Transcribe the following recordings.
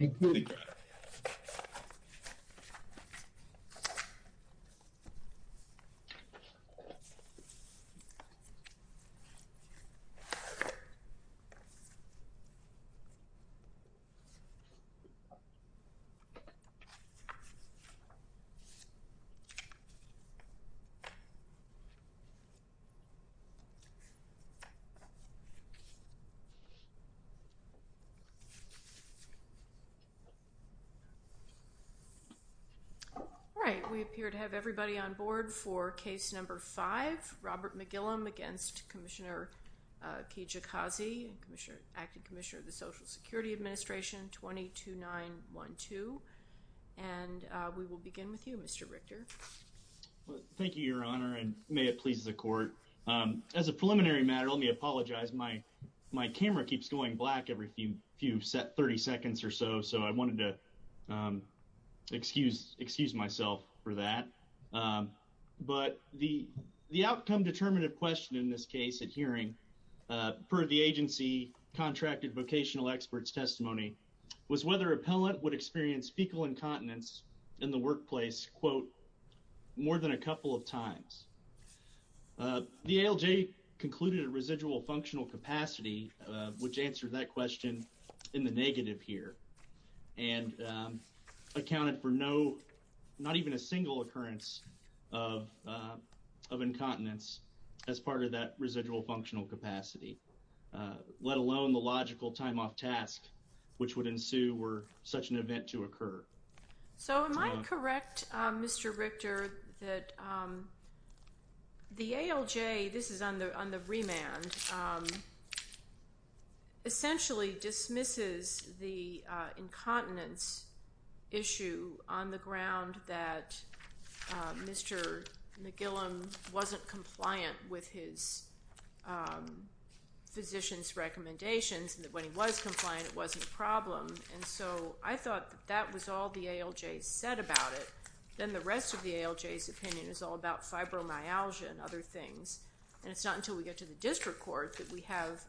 McGillicuddy All right, we appear to have everybody on board for case number five, Robert McGillem against Commissioner Kijakazi, Acting Commissioner of the Social Security Administration, 22912. And we will begin with you, Mr. Richter. Thank you, Your Honor, and may it please the court. As a preliminary matter, let me apologize. My camera keeps going black every 30 seconds or so, so I wanted to excuse myself for that. But the outcome-determinative question in this case at hearing, per the agency contracted vocational experts' testimony, was whether appellant would experience fecal incontinence in the workplace, quote, more than a couple of times. The ALJ concluded a residual functional capacity, which answered that question in the negative here, and accounted for not even a single occurrence of incontinence as part of that residual functional capacity, let alone the logical time off task which would ensue were such an event to occur. So am I correct, Mr. Richter, that the ALJ, this is on the remand, essentially dismisses the incontinence issue on the ground that Mr. McGillem wasn't compliant with his physician's recommendations, and that when he was compliant, it wasn't a problem. And so I thought that that was all the ALJ said about it. Then the rest of the ALJ's opinion is all about fibromyalgia and other things, and it's not until we get to the district court that we have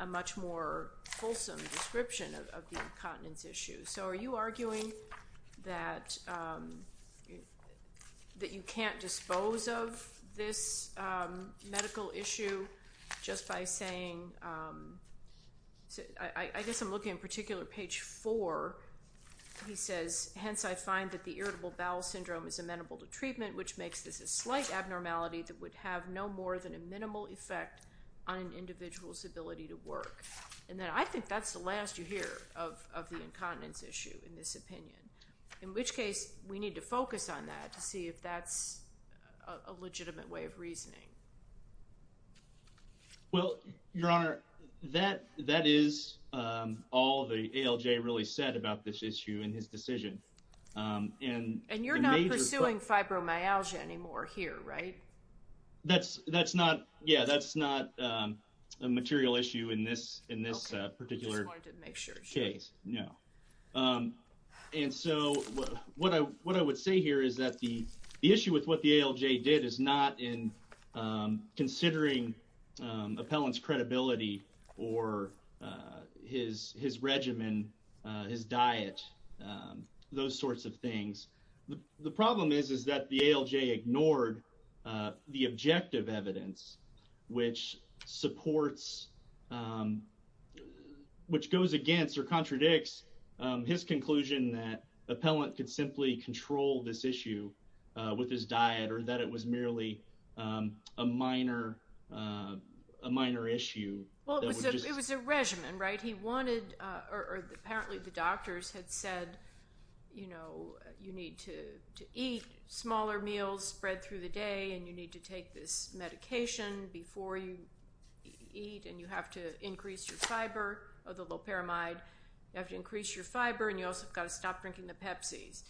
a much more fulsome description of the incontinence issue. So are you arguing that you can't dispose of this medical issue just by saying – I guess I'm looking in particular at page 4. He says, hence I find that the irritable bowel syndrome is amenable to treatment, which makes this a slight abnormality that would have no more than a minimal effect on an individual's ability to work. And then I think that's the last you hear of the incontinence issue in this opinion, in which case we need to focus on that to see if that's a legitimate way of reasoning. Well, Your Honor, that is all the ALJ really said about this issue in his decision. And you're not pursuing fibromyalgia anymore here, right? That's not – yeah, that's not a material issue in this particular case, no. And so what I would say here is that the issue with what the ALJ did is not in considering appellant's credibility or his regimen, his diet, those sorts of things. The problem is, is that the ALJ ignored the objective evidence, which supports – which goes against or contradicts his conclusion that appellant could simply control this issue with his diet or that it was merely a minor issue. Well, it was a regimen, right? He wanted – or apparently the doctors had said, you know, you need to eat smaller meals spread through the day and you need to take this medication before you eat and you have to increase your fiber or the loperamide. You have to increase your fiber and you also have to stop drinking the Pepsis.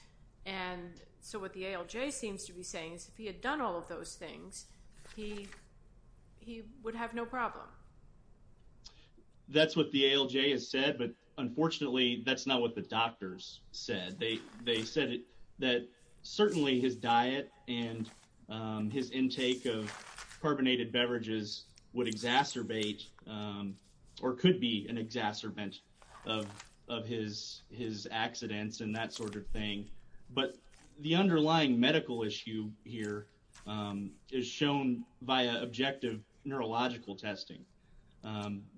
And so what the ALJ seems to be saying is if he had done all of those things, he would have no problem. That's what the ALJ has said, but unfortunately that's not what the doctors said. They said that certainly his diet and his intake of carbonated beverages would exacerbate or could be an exacerbation of his accidents and that sort of thing. But the underlying medical issue here is shown via objective neurological testing.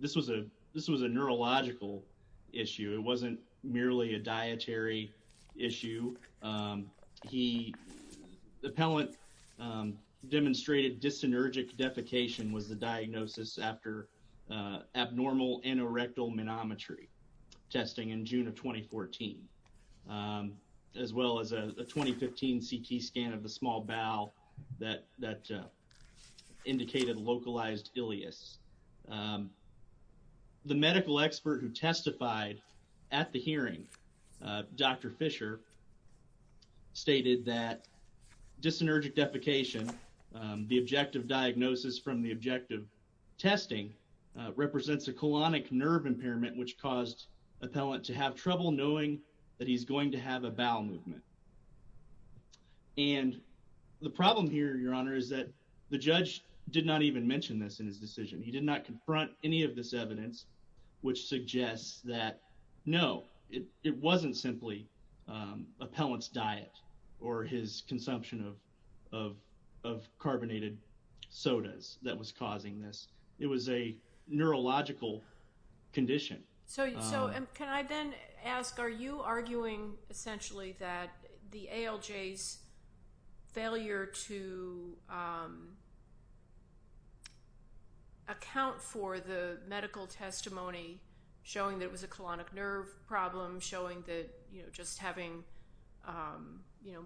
This was a neurological issue. It wasn't merely a dietary issue. He – the appellant demonstrated dyssynergic defecation was the diagnosis after abnormal anorectal manometry testing in June of 2014. As well as a 2015 CT scan of the small bowel that indicated localized ileus. The medical expert who testified at the hearing, Dr. Fisher, stated that dyssynergic defecation, the objective diagnosis from the objective testing, represents a colonic nerve impairment which caused appellant to have trouble knowing that he's going to have a bowel movement. And the problem here, Your Honor, is that the judge did not even mention this in his decision. He did not confront any of this evidence which suggests that no, it wasn't simply appellant's diet or his consumption of carbonated sodas that was causing this. It was a neurological condition. So can I then ask, are you arguing essentially that the ALJ's failure to account for the medical testimony showing that it was a colonic nerve problem, showing that just having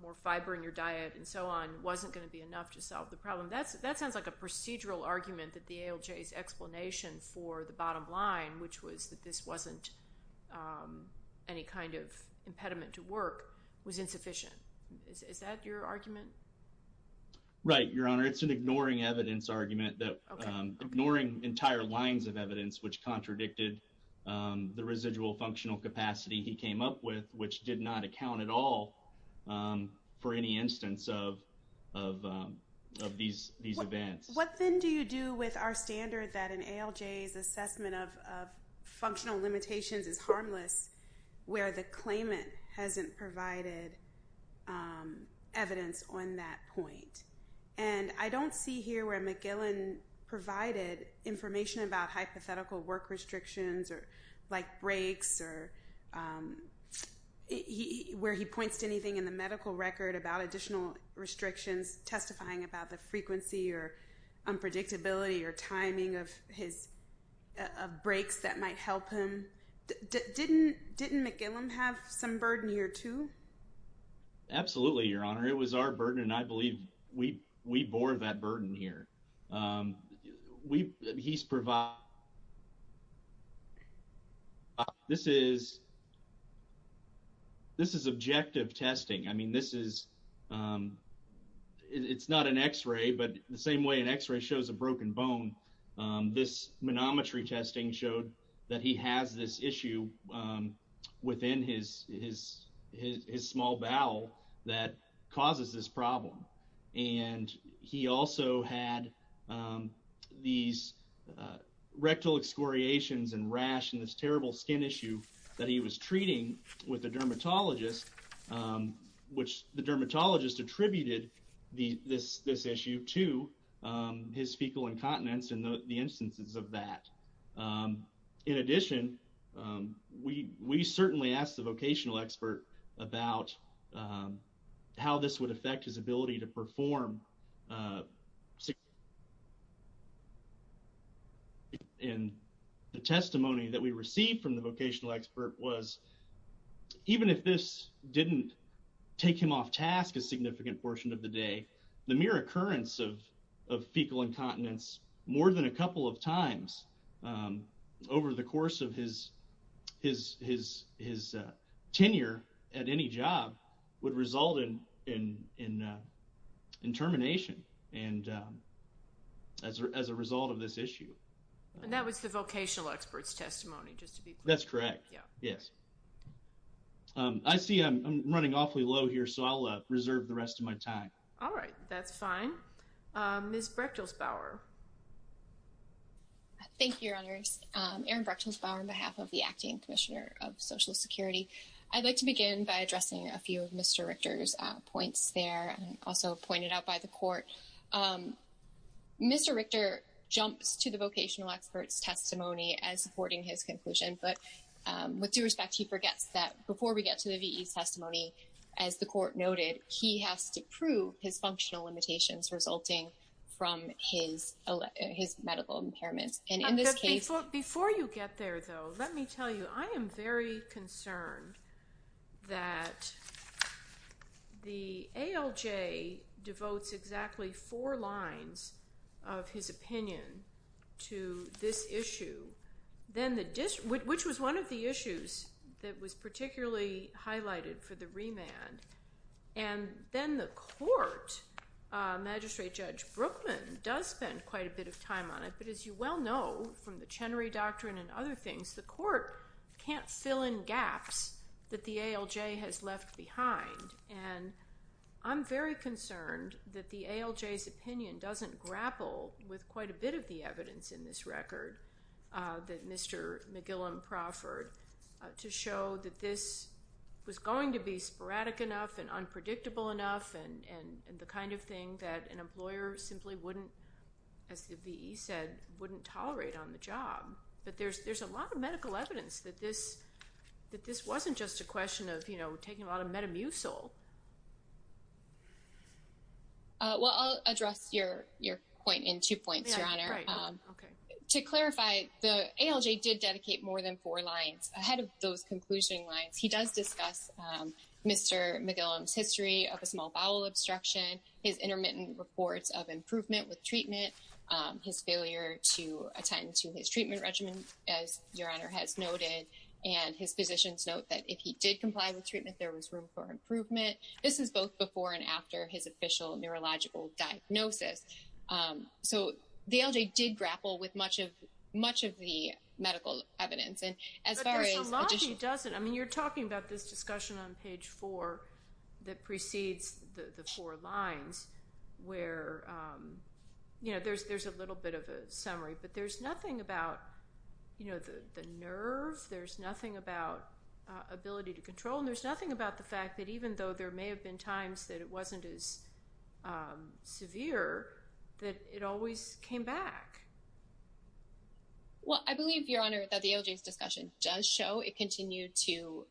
more fiber in your diet and so on wasn't going to be enough to solve the problem. That sounds like a procedural argument that the ALJ's explanation for the bottom line, which was that this wasn't any kind of impediment to work, was insufficient. Is that your argument? Right, Your Honor. It's an ignoring evidence argument, ignoring entire lines of evidence which contradicted the residual functional capacity he came up with, which did not account at all for any instance of these events. What then do you do with our standard that an ALJ's assessment of functional limitations is harmless where the claimant hasn't provided evidence on that point? And I don't see here where McGillen provided information about hypothetical work restrictions like breaks or where he points to anything in the medical record about additional restrictions testifying about the frequency or unpredictability or timing of breaks that might help him. Didn't McGillen have some burden here too? Absolutely, Your Honor. It was our burden and I believe we bore that burden here. This is objective testing. It's not an x-ray, but the same way an x-ray shows a broken bone, this manometry testing showed that he has this issue within his small bowel that causes this problem. And he also had these rectal excoriations and rash and this terrible skin issue that he was treating with a dermatologist, which the dermatologist attributed this issue to his fecal incontinence and the instances of that. In addition, we certainly asked the vocational expert about how this would affect his ability to perform. And the testimony that we received from the vocational expert was, even if this didn't take him off task a significant portion of the day, the mere occurrence of fecal incontinence more than a couple of times over the course of his tenure at any job would result in termination. And as a result of this issue. And that was the vocational expert's testimony, just to be clear. That's correct. Yes. I see I'm running awfully low here, so I'll reserve the rest of my time. All right, that's fine. Ms. Brechtelsbauer. Thank you, Your Honors. Erin Brechtelsbauer on behalf of the Acting Commissioner of Social Security. I'd like to begin by addressing a few of Mr. Richter's points there and also pointed out by the court. Mr. Richter jumps to the vocational expert's testimony as supporting his conclusion. But with due respect, he forgets that before we get to the VE's testimony, as the court noted, he has to prove his functional limitations resulting from his medical impairments. Before you get there, though, let me tell you, I am very concerned that the ALJ devotes exactly four lines of his opinion to this issue, which was one of the issues that was particularly highlighted for the remand. And then the court, Magistrate Judge Brookman, does spend quite a bit of time on it. But as you well know from the Chenery Doctrine and other things, the court can't fill in gaps that the ALJ has left behind. And I'm very concerned that the ALJ's opinion doesn't grapple with quite a bit of the evidence in this record that Mr. McGillum proffered to show that this was going to be sporadic enough and unpredictable enough and the kind of thing that an employer simply wouldn't, as the VE said, wouldn't tolerate on the job. But there's a lot of medical evidence that this wasn't just a question of, you know, taking a lot of Metamucil. Well, I'll address your point in two points, Your Honor. To clarify, the ALJ did dedicate more than four lines. Ahead of those conclusion lines, he does discuss Mr. McGillum's history of a small bowel obstruction, his intermittent reports of improvement with treatment, his failure to attend to his treatment regimen, as Your Honor has noted, and his physicians note that if he did comply with treatment, there was room for improvement. This is both before and after his official neurological diagnosis. So the ALJ did grapple with much of the medical evidence. But there's a lot he doesn't. I mean, you're talking about this discussion on page four that precedes the four lines where, you know, there's a little bit of a summary. But there's nothing about, you know, the nerve. There's nothing about ability to control. And there's nothing about the fact that even though there may have been times that it wasn't as severe, that it always came back. Well, I believe, Your Honor, that the ALJ's discussion does show it continued to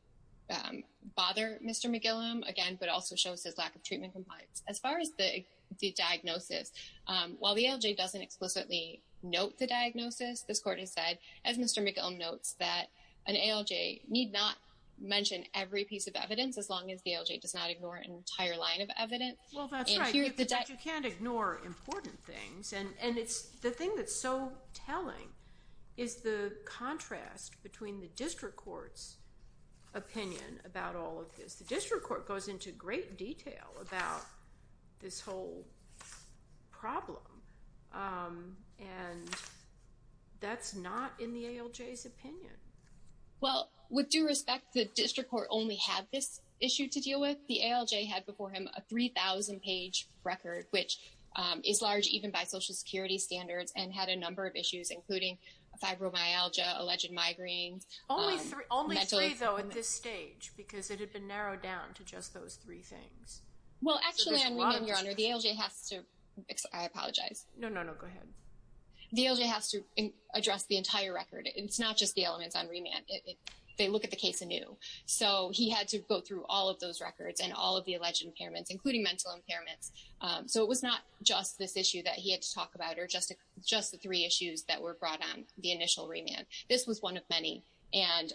bother Mr. McGillum, again, but also shows his lack of treatment compliance. As far as the diagnosis, while the ALJ doesn't explicitly note the diagnosis, this Court has said, as Mr. McGill notes, that an ALJ need not mention every piece of evidence as long as the ALJ does not ignore an entire line of evidence. Well, that's right. But you can't ignore important things. And the thing that's so telling is the contrast between the district court's opinion about all of this. The district court goes into great detail about this whole problem. And that's not in the ALJ's opinion. Well, with due respect, the district court only had this issue to deal with. The ALJ had before him a 3,000-page record, which is large even by Social Security standards, and had a number of issues, including fibromyalgia, alleged migraines. Only three, though, at this stage, because it had been narrowed down to just those three things. Well, actually, Your Honor, the ALJ has to address the entire record. It's not just the elements on remand. They look at the case anew. So he had to go through all of those records and all of the alleged impairments, including mental impairments. So it was not just this issue that he had to talk about or just the three issues that were brought on the initial remand. This was one of many, and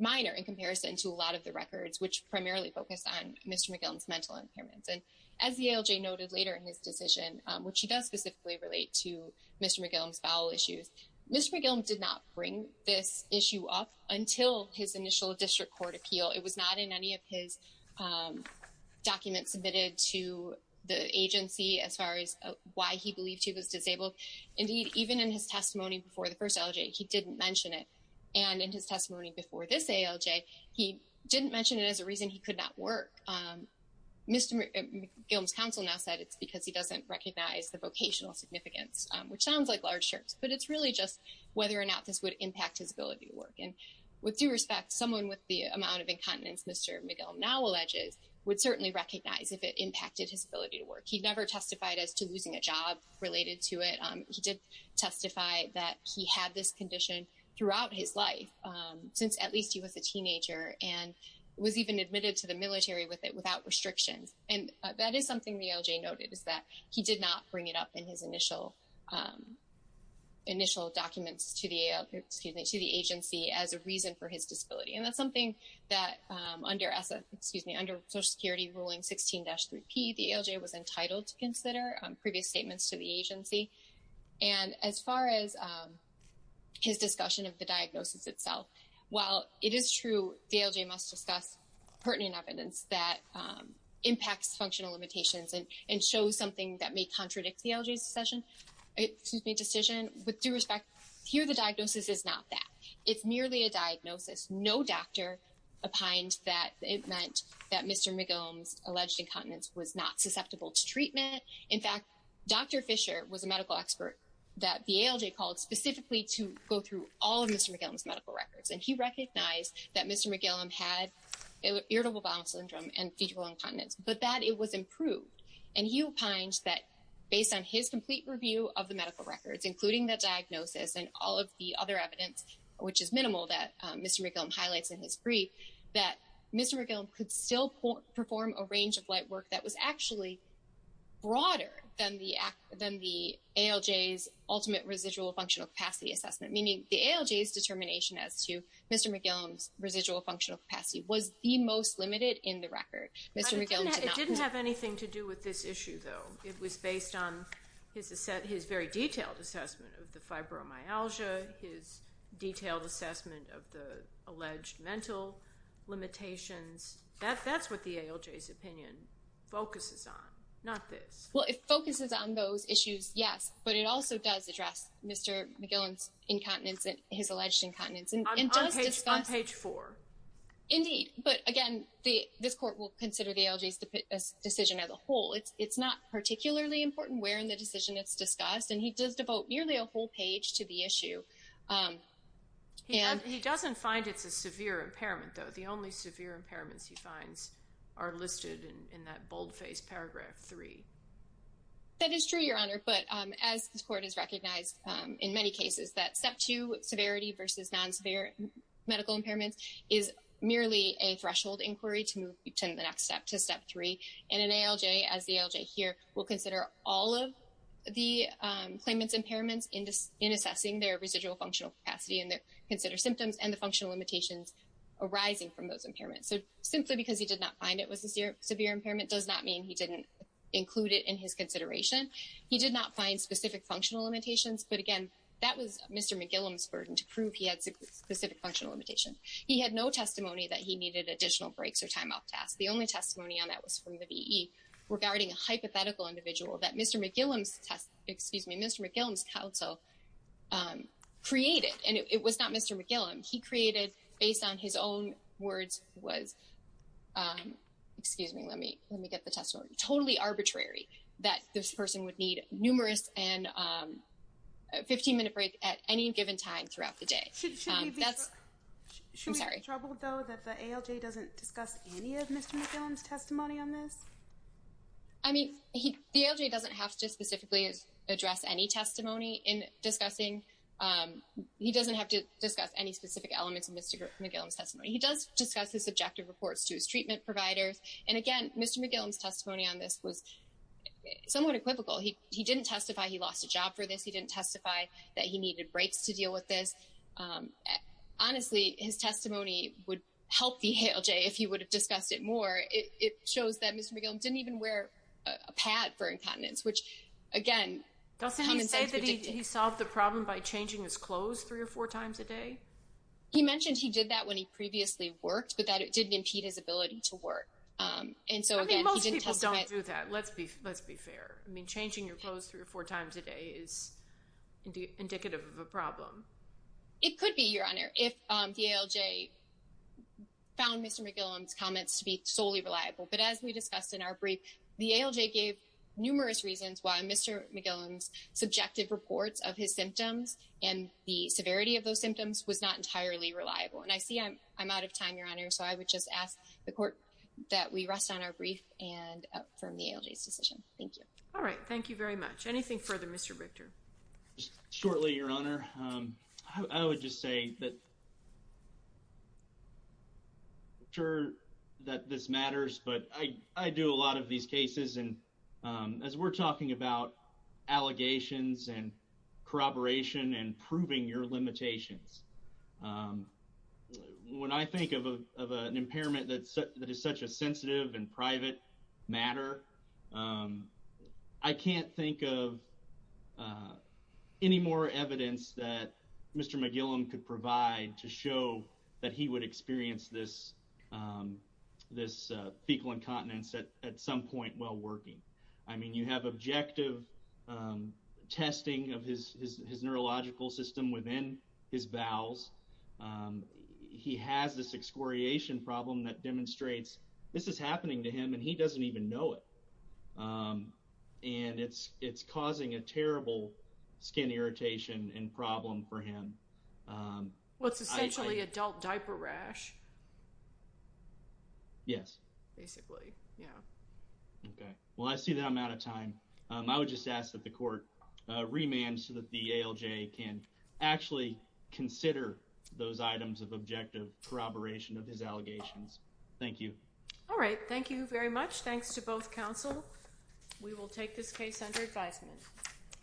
minor in comparison to a lot of the records, which primarily focused on Mr. McGill's mental impairments. And as the ALJ noted later in his decision, which he does specifically relate to Mr. McGill's bowel issues, Mr. McGill did not bring this issue up until his initial district court appeal. It was not in any of his documents submitted to the agency as far as why he believed he was disabled. Indeed, even in his testimony before the first ALJ, he didn't mention it. And in his testimony before this ALJ, he didn't mention it as a reason he could not work. Mr. McGill's counsel now said it's because he doesn't recognize the vocational significance, which sounds like large shirts. But it's really just whether or not this would impact his ability to work. And with due respect, someone with the amount of incontinence Mr. McGill now alleges would certainly recognize if it impacted his ability to work. He never testified as to losing a job related to it. He did testify that he had this condition throughout his life since at least he was a teenager and was even admitted to the military with it without restrictions. And that is something the ALJ noted is that he did not bring it up in his initial documents to the agency as a reason for his disability. And that's something that under, excuse me, under Social Security Ruling 16-3P, the ALJ was entitled to consider previous statements to the agency. And as far as his discussion of the diagnosis itself, while it is true the ALJ must discuss pertinent evidence that impacts functional limitations and shows something that may contradict the ALJ's decision, with due respect, here the diagnosis is not that. It's merely a diagnosis. No doctor opined that it meant that Mr. McGill's alleged incontinence was not susceptible to treatment. In fact, Dr. Fisher was a medical expert that the ALJ called specifically to go through all of Mr. McGill's medical records. And he recognized that Mr. McGill had irritable bowel syndrome and fetal incontinence, but that it was improved. And he opined that based on his complete review of the medical records, including the diagnosis and all of the other evidence, which is minimal that Mr. McGill highlights in his brief, that Mr. McGill could still perform a range of light work that was actually broader than the ALJ's ultimate residual functional capacity assessment. Meaning the ALJ's determination as to Mr. McGill's residual functional capacity was the most limited in the record. But it didn't have anything to do with this issue, though. It was based on his very detailed assessment of the fibromyalgia, his detailed assessment of the alleged mental limitations. That's what the ALJ's opinion focuses on, not this. Well, it focuses on those issues, yes, but it also does address Mr. McGill's incontinence, his alleged incontinence. On page 4. Indeed, but again, this court will consider the ALJ's decision as a whole. It's not particularly important where in the decision it's discussed, and he does devote nearly a whole page to the issue. He doesn't find it's a severe impairment, though. The only severe impairments he finds are listed in that boldface paragraph 3. That is true, Your Honor, but as this court has recognized in many cases, that step 2, severity versus non-severe medical impairments, is merely a threshold inquiry to move to the next step, to step 3. And an ALJ, as the ALJ here, will consider all of the claimant's impairments in assessing their residual functional capacity and consider symptoms and the functional limitations arising from those impairments. So simply because he did not find it was a severe impairment does not mean he didn't include it in his consideration. He did not find specific functional limitations, but again, that was Mr. McGill's burden to prove he had specific functional limitations. He had no testimony that he needed additional breaks or time off tasks. The only testimony on that was from the VE regarding a hypothetical individual that Mr. McGill's counsel created, and it was not Mr. McGill. He created, based on his own words, was, excuse me, let me get the testimony, totally arbitrary that this person would need numerous and 15-minute break at any given time throughout the day. Should we be troubled, though, that the ALJ doesn't discuss any of Mr. McGill's testimony on this? I mean, the ALJ doesn't have to specifically address any testimony in discussing, he doesn't have to discuss any specific elements of Mr. McGill's testimony. He does discuss his subjective reports to his treatment providers. And again, Mr. McGill's testimony on this was somewhat equivocal. He didn't testify he lost a job for this. He didn't testify that he needed breaks to deal with this. Honestly, his testimony would help the ALJ if he would have discussed it more. It shows that Mr. McGill didn't even wear a pad for incontinence, which, again, doesn't he say that he solved the problem by changing his clothes three or four times a day? He mentioned he did that when he previously worked, but that it didn't impede his ability to work. And so, again, he didn't testify. I mean, most people don't do that. Let's be fair. I mean, changing your clothes three or four times a day is indicative of a problem. It could be, Your Honor, if the ALJ found Mr. McGill's comments to be solely reliable. But as we discussed in our brief, the ALJ gave numerous reasons why Mr. McGill's subjective reports of his symptoms and the severity of those symptoms was not entirely reliable. And I see I'm out of time, Your Honor, so I would just ask the court that we rest on our brief and affirm the ALJ's decision. Thank you. All right. Thank you very much. Anything further, Mr. Victor? Shortly, Your Honor. I would just say that I'm sure that this matters, but I do a lot of these cases, and as we're talking about allegations and corroboration and proving your limitations, when I think of an impairment that is such a sensitive and private matter, I can't think of any more evidence that Mr. McGill could provide to show that he would experience this fecal incontinence at some point while working. I mean, you have objective testing of his neurological system within his bowels. He has this excoriation problem that demonstrates this is happening to him, and he doesn't even know it. And it's causing a terrible skin irritation and problem for him. Well, it's essentially adult diaper rash. Yes. Basically, yeah. Okay. Well, I see that I'm out of time. I would just ask that the court remand so that the ALJ can actually consider those items of objective corroboration of his allegations. Thank you. All right. Thank you very much. Thanks to both counsel. We will take this case under advisement.